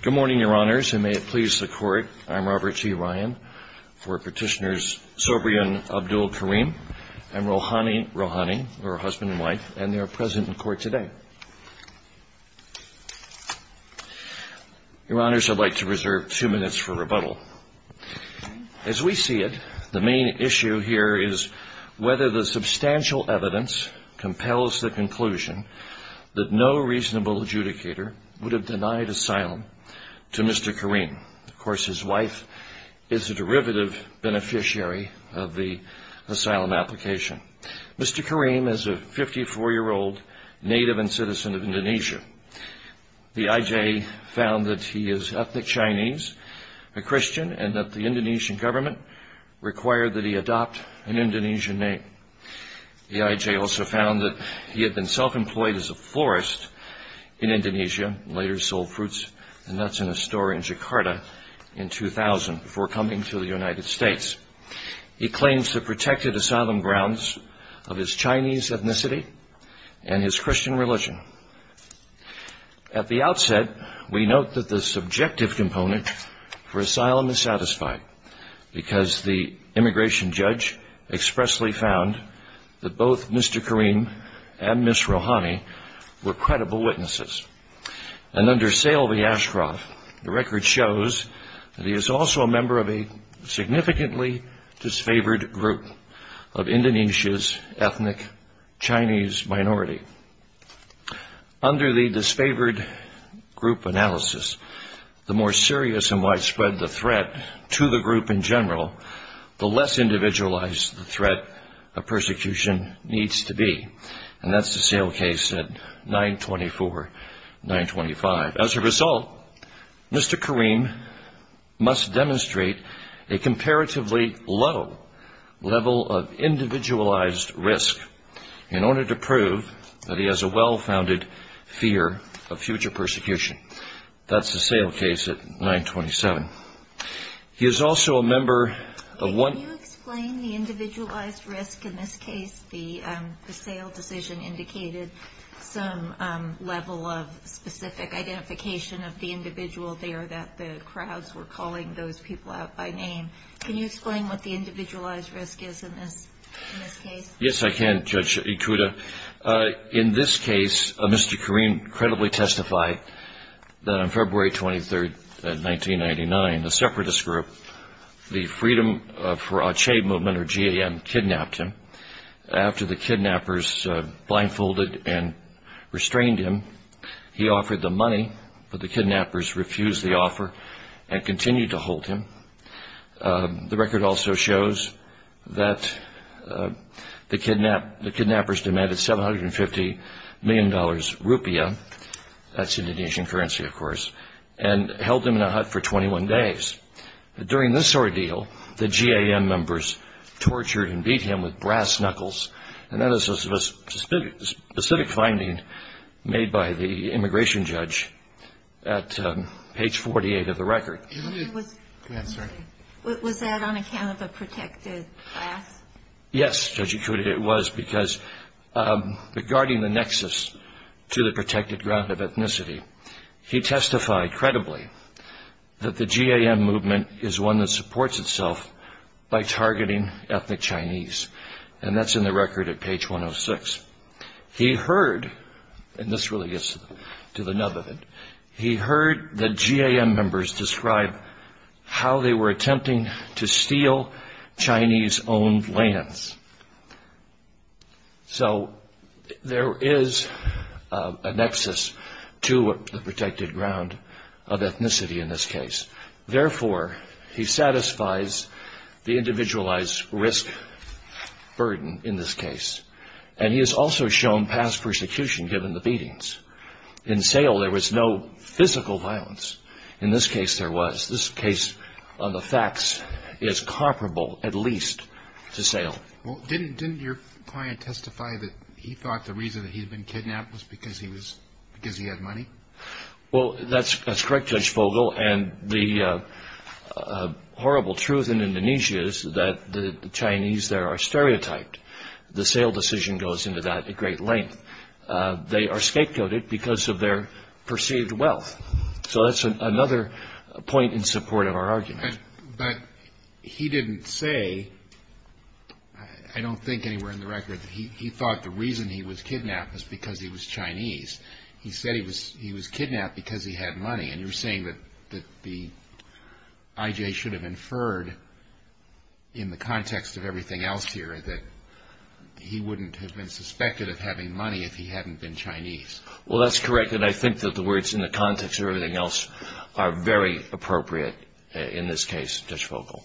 Good morning, Your Honors, and may it please the Court, I'm Robert T. Ryan for Petitioners Sobriyan Abdul-Karim and Rouhani Rouhani, who are husband and wife, and they are present in court today. Your Honors, I'd like to reserve two minutes for rebuttal. As we see it, the main issue here is whether the substantial evidence compels the conclusion that no reasonable adjudicator would have denied asylum to Mr. Karim. Of course, his wife is a derivative beneficiary of the asylum application. Mr. Karim is a 54-year-old native and citizen of Indonesia. The IJ found that he is ethnic Chinese, a Christian, and that the Indonesian government required that he adopt an Indonesian name. The IJ also found that he had been self-employed as a florist in Indonesia and later sold fruits and nuts in a store in Jakarta in 2000 before coming to the United States. He claims to have protected asylum grounds of his Chinese ethnicity and his Christian religion. At the outset, we note that the subjective component for asylum is satisfied because the immigration judge expressly found that both Mr. Karim and Ms. Rouhani were credible witnesses. And under Saleh V. Ashcroft, the record shows that he is also a member of a significantly disfavored group of Indonesia's ethnic Chinese minority. Under the disfavored group analysis, the more serious and widespread the threat to the group in general, the less individualized the threat of persecution needs to be. And that's the Saleh case at 924-925. As a result, Mr. Karim must demonstrate a comparatively low level of individualized risk in order to prove that he has a well-founded fear of future persecution. That's the Saleh case at 927. He is also a member of one... The individual decision indicated some level of specific identification of the individual there that the crowds were calling those people out by name. Can you explain what the individualized risk is in this case? Yes, I can, Judge Ikuda. In this case, Mr. Karim credibly testified that on February 23rd, 1999, a separatist group, the Freedom of Karachi Movement, or GAM, kidnapped him. After the kidnappers blindfolded and restrained him, he offered the money, but the kidnappers refused the offer and continued to hold him. The record also shows that the kidnappers demanded $750 million rupiah, that's Indonesian currency, of course, and held him in a hut for 21 days. During this ordeal, the GAM members tortured and beat him with brass knuckles, and that is a specific finding made by the immigration judge at page 48 of the record. Was that on account of a protected class? So there is a nexus to the protected ground of ethnicity in this case. Therefore, he satisfies the individualized risk burden in this case, and he has also shown past persecution given the beatings. In Sale, there was no physical violence. In this case, there was. This case, on the facts, is comparable, at least, to Sale. Well, didn't your client testify that he thought the reason that he had been kidnapped was because he had money? Well, that's correct, Judge Fogel, and the horrible truth in Indonesia is that the Chinese there are stereotyped. The Sale decision goes into that at great length. They are scapegoated because of their perceived wealth. So that's another point in support of our argument. But he didn't say, I don't think anywhere in the record, that he thought the reason he was kidnapped was because he was Chinese. He said he was kidnapped because he had money, and you're saying that the IJ should have inferred in the context of everything else here that he wouldn't have been suspected of having money if he hadn't been Chinese. Well, that's correct, and I think that the words in the context of everything else are very appropriate in this case, Judge Fogel.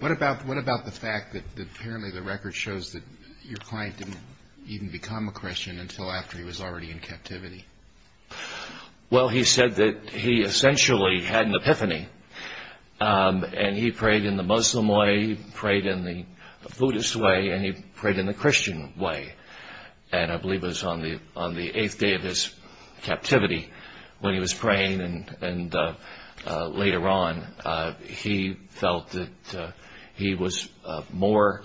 What about the fact that apparently the record shows that your client didn't even become a Christian until after he was already in captivity? Well, he said that he essentially had an epiphany, and he prayed in the Muslim way, he prayed in the Buddhist way, and he prayed in the Christian way. And I believe it was on the eighth day of his captivity when he was praying, and later on, he felt that he was more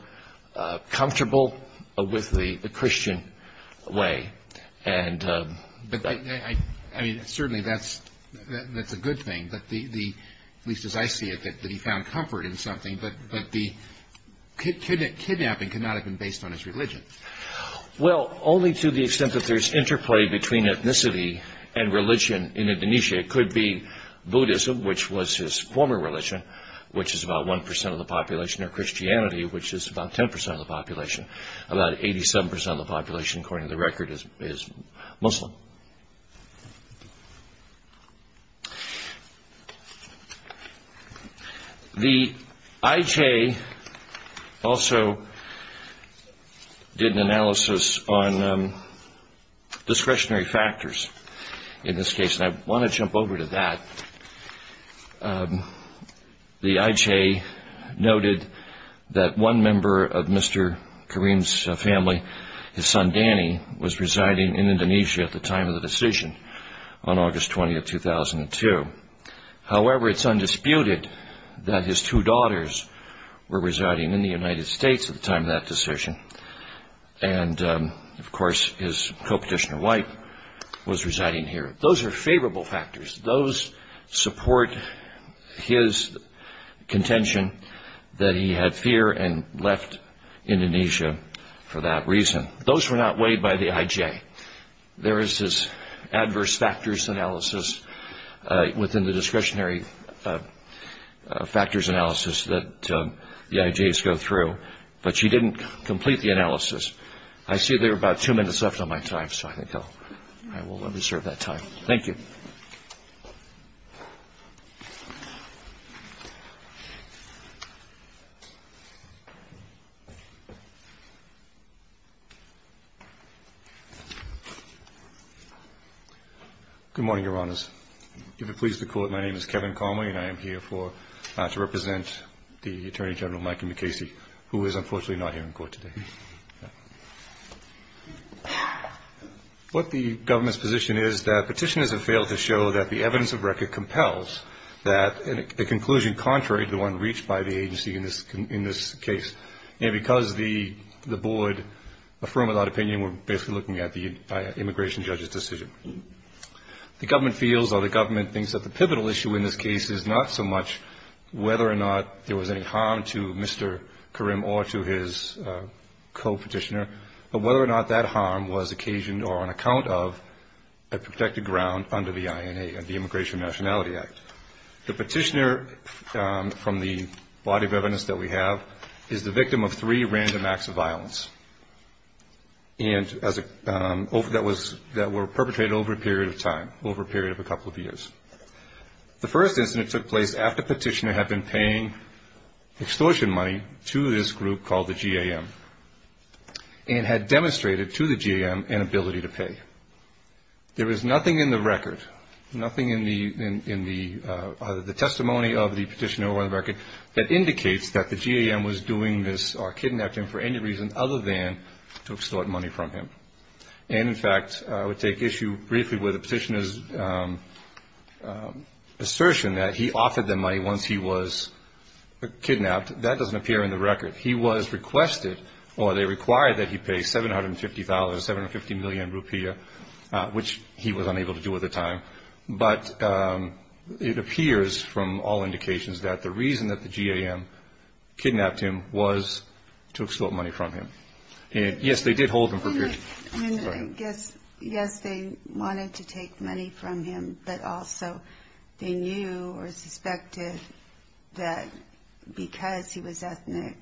comfortable with the Christian way. Certainly, that's a good thing, at least as I see it, that he found comfort in something, but the kidnapping could not have been based on his religion. Well, only to the extent that there's interplay between ethnicity and religion in Indonesia. It could be Buddhism, which was his former religion, which is about 1% of the population, or Christianity, which is about 10% of the population. About 87% of the population, according to the record, is Muslim. The IJ also did an analysis on discretionary factors in this case, and I want to jump over to that. The IJ noted that one member of Mr. Karim's family, his son Danny, was residing in Indonesia at the time of the decision on August 20, 2002. However, it's undisputed that his two daughters were residing in the United States at the time of that decision, and of course, his co-petitioner wife was residing here. Those are favorable factors. Those support his contention that he had fear and left Indonesia for that reason. Those were not weighed by the IJ. There is this adverse factors analysis within the discretionary factors analysis that the IJs go through, but she didn't complete the analysis. I see there are about two minutes left on my time, so I will reserve that time. Thank you. Good morning, Your Honors. If you're pleased to call it, my name is Kevin Conway, and I am here to represent the Attorney General, Mikey McCasey, who is unfortunately not here in court today. What the government's position is that petitioners have failed to show that the evidence of record compels that the conclusion contrary to the one reached by the agency in this case, and because the board affirmed that opinion, we're basically looking at the immigration judge's decision. The government feels or the government thinks that the pivotal issue in this case is not so much whether or not there was any harm to Mr. Karim or to his co-petitioner, but whether or not that harm was occasioned or on account of a protected ground under the INA, the Immigration and Nationality Act. The petitioner from the body of evidence that we have is the victim of three random acts of violence that were perpetrated over a period of time, over a period of a couple of years. The first incident took place after petitioner had been paying extortion money to this group called the GAM and had demonstrated to the GAM an ability to pay. There is nothing in the record, nothing in the testimony of the petitioner on the record that indicates that the GAM was doing this or kidnapped him for any reason other than to extort money from him. And, in fact, I would take issue briefly with the petitioner's assertion that he offered them money once he was kidnapped. That doesn't appear in the record. He was requested or they required that he pay $750,000, 750 million rupiah, which he was unable to do at the time. But it appears from all indications that the reason that the GAM kidnapped him was to extort money from him. And, yes, they did hold him for a period of time. And I guess, yes, they wanted to take money from him, but also they knew or suspected that because he was ethnic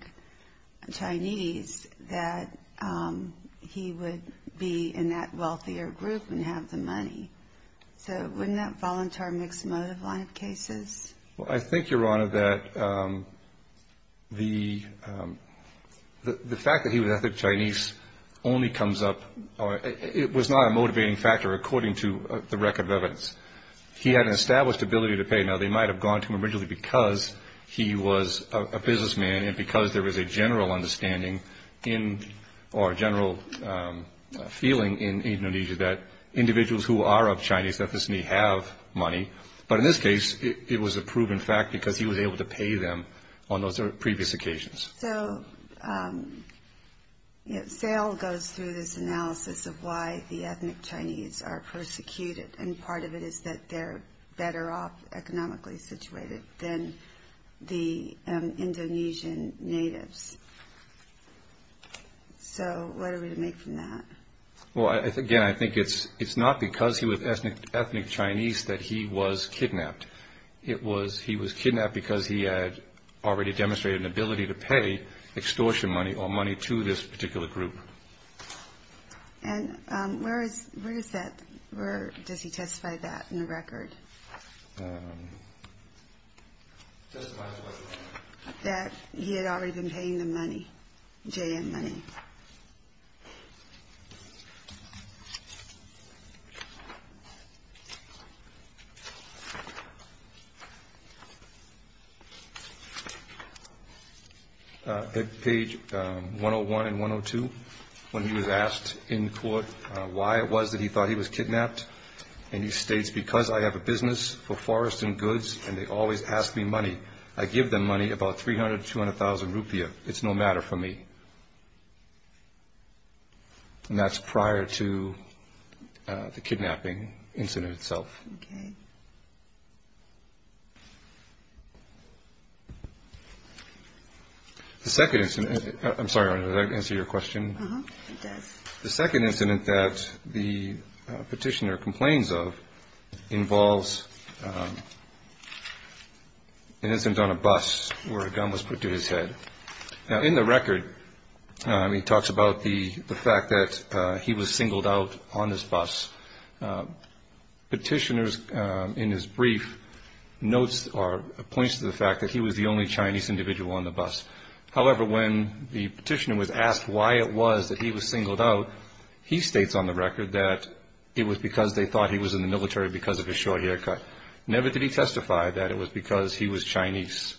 Chinese that he would be in that wealthier group and have the money. So wouldn't that fall into our mixed motive line of cases? Well, I think, Your Honor, that the fact that he was ethnic Chinese only comes up or it was not a motivating factor according to the record of evidence. He had an established ability to pay. Now, they might have gone to him originally because he was a businessman and because there was a general understanding in or a general feeling in Indonesia that individuals who are of Chinese ethnicity have money. But in this case, it was a proven fact because he was able to pay them on those previous occasions. So, you know, sale goes through this analysis of why the ethnic Chinese are persecuted. And part of it is that they're better off economically situated than the Indonesian natives. So what are we to make from that? Well, again, I think it's not because he was ethnic Chinese that he was kidnapped. It was he was kidnapped because he had already demonstrated an ability to pay extortion money or money to this particular group. And where is where is that? Where does he testify that in the record that he had already been paying the money? J.M. Money. Page 101 and 102, when he was asked in court why it was that he thought he was kidnapped. And he states, because I have a business for forest and goods and they always ask me money. I give them money, about 300, 200,000 rupiah. It's no matter for me. And that's prior to the kidnapping incident itself. The second incident. I'm sorry. Answer your question. The second incident that the petitioner complains of involves an incident on a bus where a gun was put to his head. Now, in the record, he talks about the fact that he was singled out on this bus. Petitioners in his brief notes or points to the fact that he was the only Chinese individual on the bus. However, when the petitioner was asked why it was that he was singled out, he states on the record that it was because they thought he was in the military because of his short haircut. Never did he testify that it was because he was Chinese.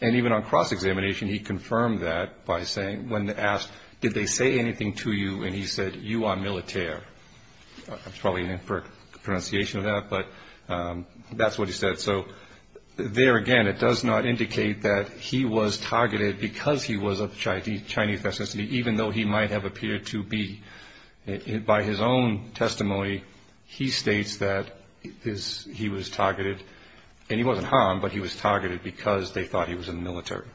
And even on cross-examination, he confirmed that by saying, when asked, did they say anything to you? And he said, you are military. It's probably an inferred pronunciation of that, but that's what he said. So there, again, it does not indicate that he was targeted because he was of Chinese ethnicity, even though he might have appeared to be. By his own testimony, he states that he was targeted. And he wasn't harmed, but he was targeted because they thought he was in the military.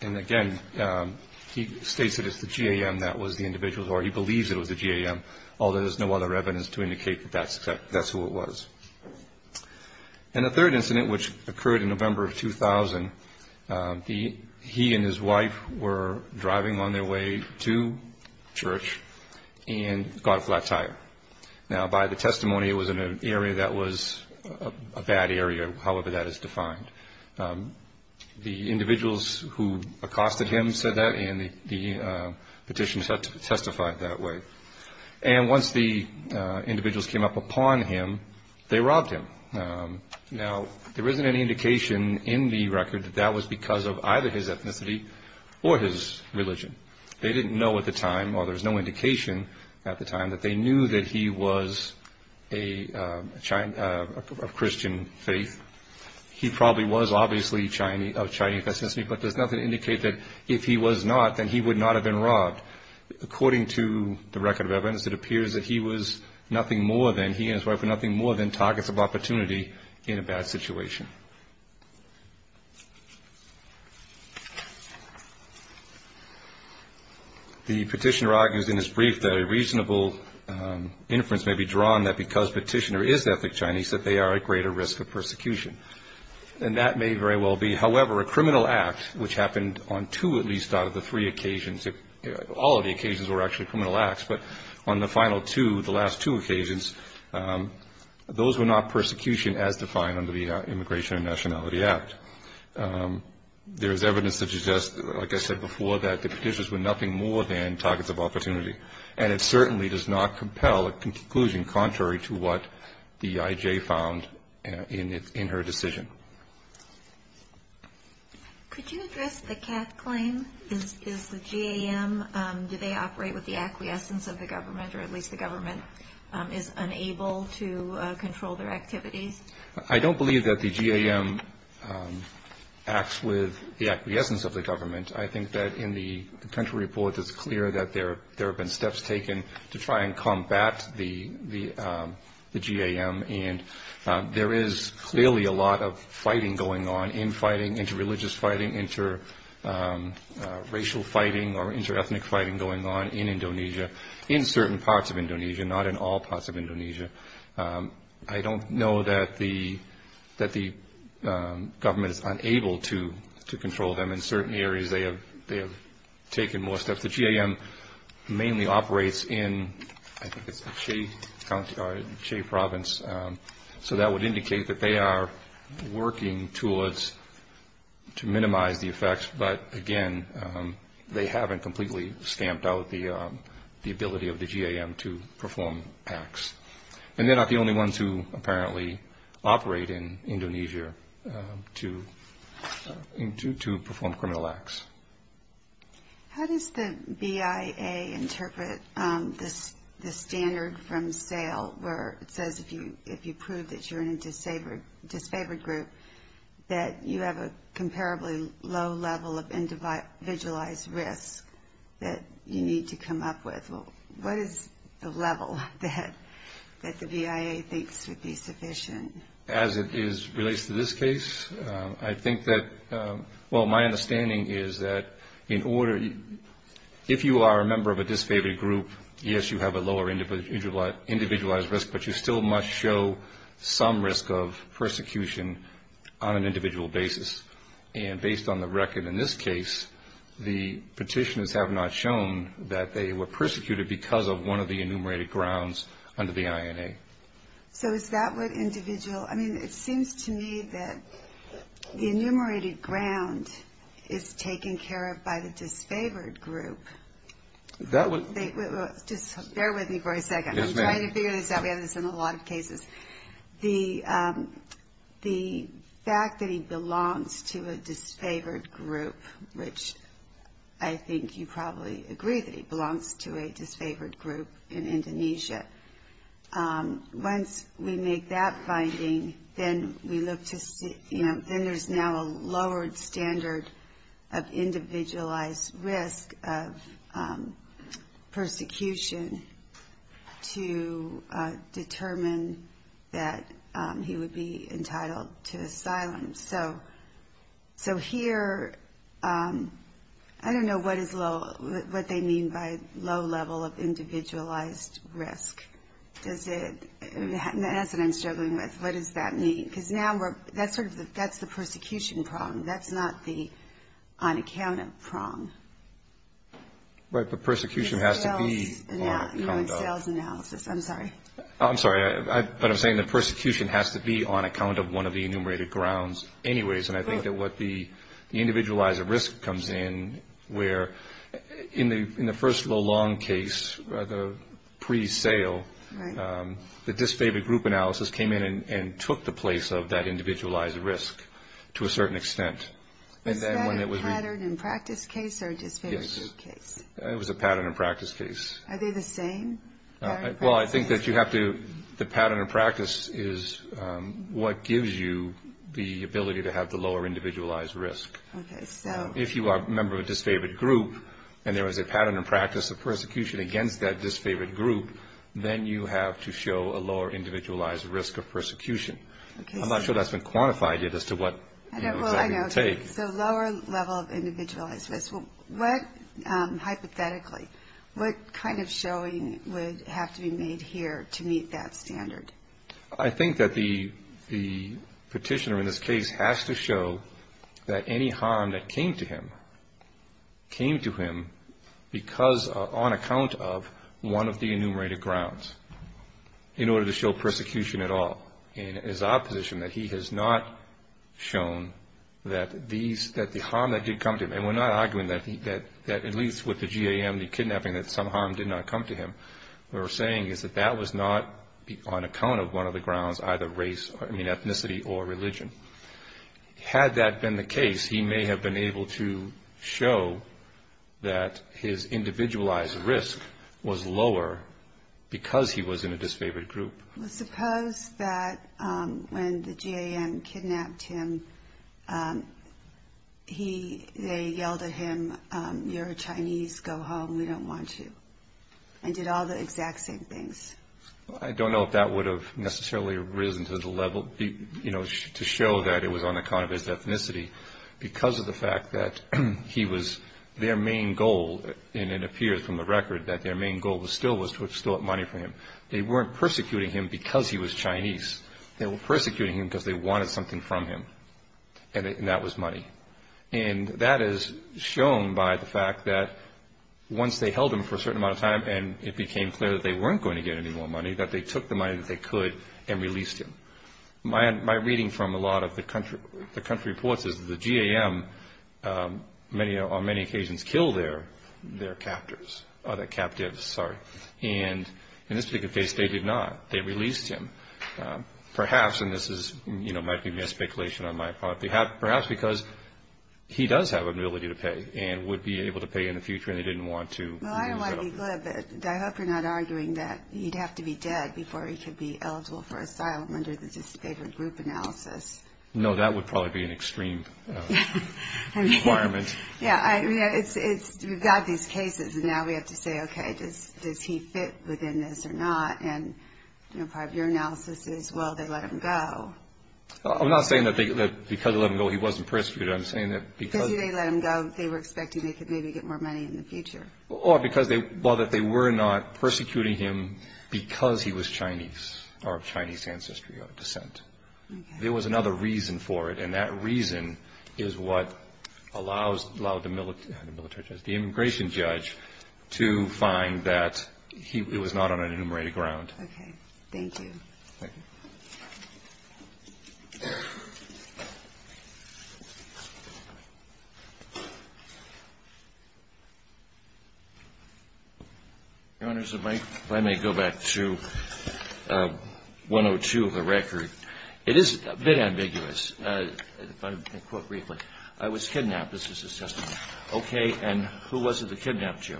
And, again, he states that it's the GAM that was the individual, or he believes it was the GAM, although there's no other evidence to indicate that that's who it was. And the third incident, which occurred in November of 2000, he and his wife were driving on their way to church and got a flat tire. Now, by the testimony, it was in an area that was a bad area, however that is defined. The individuals who accosted him said that, and the petitioners had to testify that way. And once the individuals came up upon him, they robbed him. Now, there isn't any indication in the record that that was because of either his ethnicity or his religion. They didn't know at the time, or there was no indication at the time, that they knew that he was of Christian faith. He probably was obviously of Chinese ethnicity, but there's nothing to indicate that if he was not, then he would not have been robbed. According to the record of evidence, it appears that he was nothing more than, he and his wife were nothing more than targets of opportunity in a bad situation. The petitioner argues in his brief that a reasonable inference may be drawn that because petitioner is ethnic Chinese, that they are at greater risk of persecution. And that may very well be, however, a criminal act, which happened on two at least out of the three occasions. All of the occasions were actually criminal acts, but on the final two, the last two occasions, those were not persecution as defined under the Immigration and Nationality Act. There is evidence that suggests, like I said before, that the petitioners were nothing more than targets of opportunity. And it certainly does not compel a conclusion contrary to what the I.J. found in her decision. Could you address the CAF claim? Is the GAM, do they operate with the acquiescence of the government, or at least the government is unable to control their activities? I don't believe that the GAM acts with the acquiescence of the government. I think that in the potential report, it's clear that there have been steps taken to try and combat the GAM. And there is clearly a lot of fighting going on, infighting, interreligious fighting, interracial fighting or interethnic fighting going on in Indonesia, in certain parts of Indonesia, not in all parts of Indonesia. I don't know that the government is unable to control them. In certain areas, they have taken more steps. The GAM mainly operates in, I think it's the Che Province, so that would indicate that they are working towards to minimize the effects. But, again, they haven't completely stamped out the ability of the GAM to perform acts. And they're not the only ones who apparently operate in Indonesia to perform criminal acts. How does the BIA interpret the standard from SAIL, where it says if you prove that you're in a disfavored group, that you have a comparably low level of individualized risk that you need to come up with? What is the level that the BIA thinks would be sufficient? As it relates to this case, I think that, well, my understanding is that if you are a member of a disfavored group, yes, you have a lower individualized risk, but you still must show some risk of persecution on an individual basis. And based on the record in this case, the petitioners have not shown that they were persecuted because of one of the enumerated grounds under the INA. Okay. So is that what individual – I mean, it seems to me that the enumerated ground is taken care of by the disfavored group. That would – Just bear with me for a second. Yes, ma'am. I'm trying to figure this out. We have this in a lot of cases. The fact that he belongs to a disfavored group, which I think you probably agree that he belongs to a disfavored group in Indonesia. Once we make that finding, then we look to – then there's now a lowered standard of individualized risk of persecution to determine that he would be entitled to asylum. So here – I don't know what is low – what they mean by low level of individualized risk. Does it – that's what I'm struggling with. What does that mean? Because now we're – that's sort of the – that's the persecution problem. That's not the on-account of problem. Right, but persecution has to be on account of – Sales analysis. I'm sorry. I'm sorry. But I'm saying the persecution has to be on account of one of the enumerated grounds anyways. And I think that what the individualized risk comes in where in the first low-long case, the pre-sale, the disfavored group analysis came in and took the place of that individualized risk to a certain extent. Is that a pattern and practice case or a disfavored group case? It was a pattern and practice case. Are they the same? Well, I think that you have to – the pattern and practice is what gives you the ability to have the lower individualized risk. Okay, so – If you are a member of a disfavored group and there is a pattern and practice of persecution against that disfavored group, then you have to show a lower individualized risk of persecution. I'm not sure that's been quantified yet as to what – I know. Well, I know. So lower level of individualized risk. Hypothetically, what kind of showing would have to be made here to meet that standard? I think that the petitioner in this case has to show that any harm that came to him came to him because – on account of one of the enumerated grounds in order to show persecution at all. And it is our position that he has not shown that these – that the harm that did come to him – and we're not arguing that at least with the GAM, the kidnapping, that some harm did not come to him. What we're saying is that that was not on account of one of the grounds, either race – I mean ethnicity or religion. Had that been the case, he may have been able to show that his individualized risk was lower because he was in a disfavored group. Well, suppose that when the GAM kidnapped him, he – they yelled at him, you're a Chinese, go home, we don't want you, and did all the exact same things. I don't know if that would have necessarily risen to the level – you know, to show that it was on account of his ethnicity because of the fact that he was – their main goal, and it appears from the record that their main goal was still was to extort money from him. They weren't persecuting him because he was Chinese. They were persecuting him because they wanted something from him, and that was money. And that is shown by the fact that once they held him for a certain amount of time and it became clear that they weren't going to get any more money, that they took the money that they could and released him. My reading from a lot of the country reports is that the GAM on many occasions killed their captors – their captives, sorry. And in this particular case, they did not. They released him, perhaps – and this is, you know, might be a speculation on my part – perhaps because he does have an ability to pay and would be able to pay in the future and they didn't want to. Well, I don't want to be glib, but I hope you're not arguing that he'd have to be dead before he could be eligible for asylum under the dissipation group analysis. No, that would probably be an extreme requirement. Yeah, I mean, it's – we've got these cases and now we have to say, okay, does he fit within this or not? And, you know, part of your analysis is, well, they let him go. I'm not saying that because they let him go he wasn't persecuted. I'm saying that because – Because they let him go, they were expecting they could maybe get more money in the future. Or because they – well, that they were not persecuting him because he was Chinese or of Chinese ancestry or descent. There was another reason for it, and that reason is what allows the – the immigration judge to find that he was not on an enumerated ground. Okay. Thank you. Thank you. Your Honor, if I may go back to 102 of the record. It is a bit ambiguous, but I'll quote briefly. I was kidnapped, this is his testimony. Okay, and who was it that kidnapped you?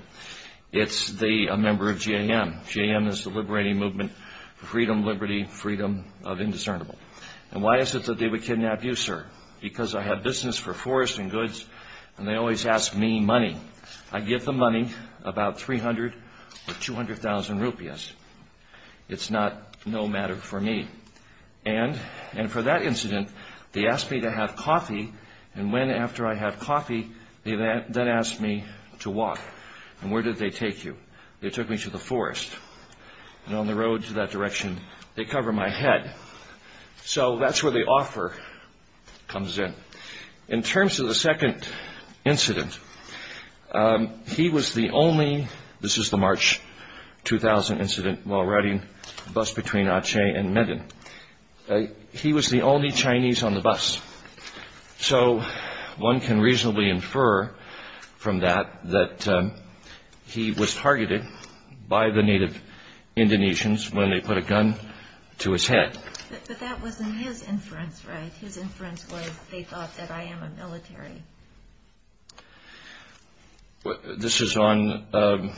It's the – a member of JM. JM is the liberating movement for freedom, liberty, freedom of indiscernible. And why is it that they would kidnap you, sir? Because I have business for forest and goods and they always ask me money. I give them money, about 300 or 200,000 rupees. It's not – no matter for me. And for that incident they asked me to have coffee and when after I had coffee they then asked me to walk. And where did they take you? They took me to the forest. And on the road to that direction they cover my head. So that's where the offer comes in. In terms of the second incident, he was the only – this is the March 2000 incident while riding the bus between Aceh and Medan. He was the only Chinese on the bus. So one can reasonably infer from that that he was targeted by the native Indonesians when they put a gun to his head. But that wasn't his inference, right? His inference was they thought that I am a military. This is on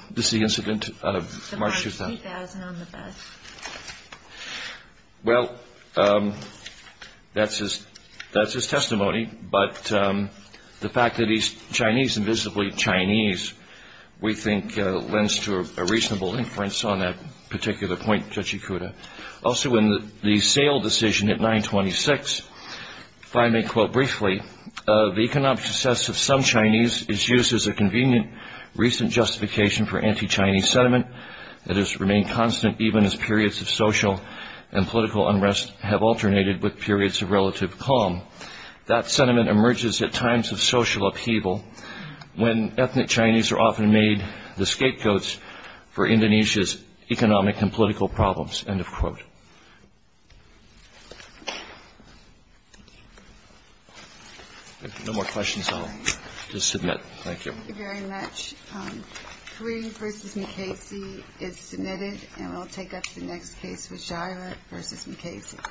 – this is the incident out of March 2000. March 2000 on the bus. Well, that's his testimony. But the fact that he's Chinese, invisibly Chinese, we think lends to a reasonable inference on that particular point, Judge Ikuda. Also in the sale decision at 926, if I may quote briefly, the economic success of some Chinese is used as a convenient recent justification for anti-Chinese sentiment that has remained constant even as periods of social and political unrest have alternated with periods of relative calm. That sentiment emerges at times of social upheaval when ethnic Chinese are often made the scapegoats for Indonesia's economic and political problems. End of quote. If there are no more questions, I'll just submit. Thank you. Thank you very much. Kareem v. McKasey is submitted, and we'll take up the next case with Jaira v. McKasey.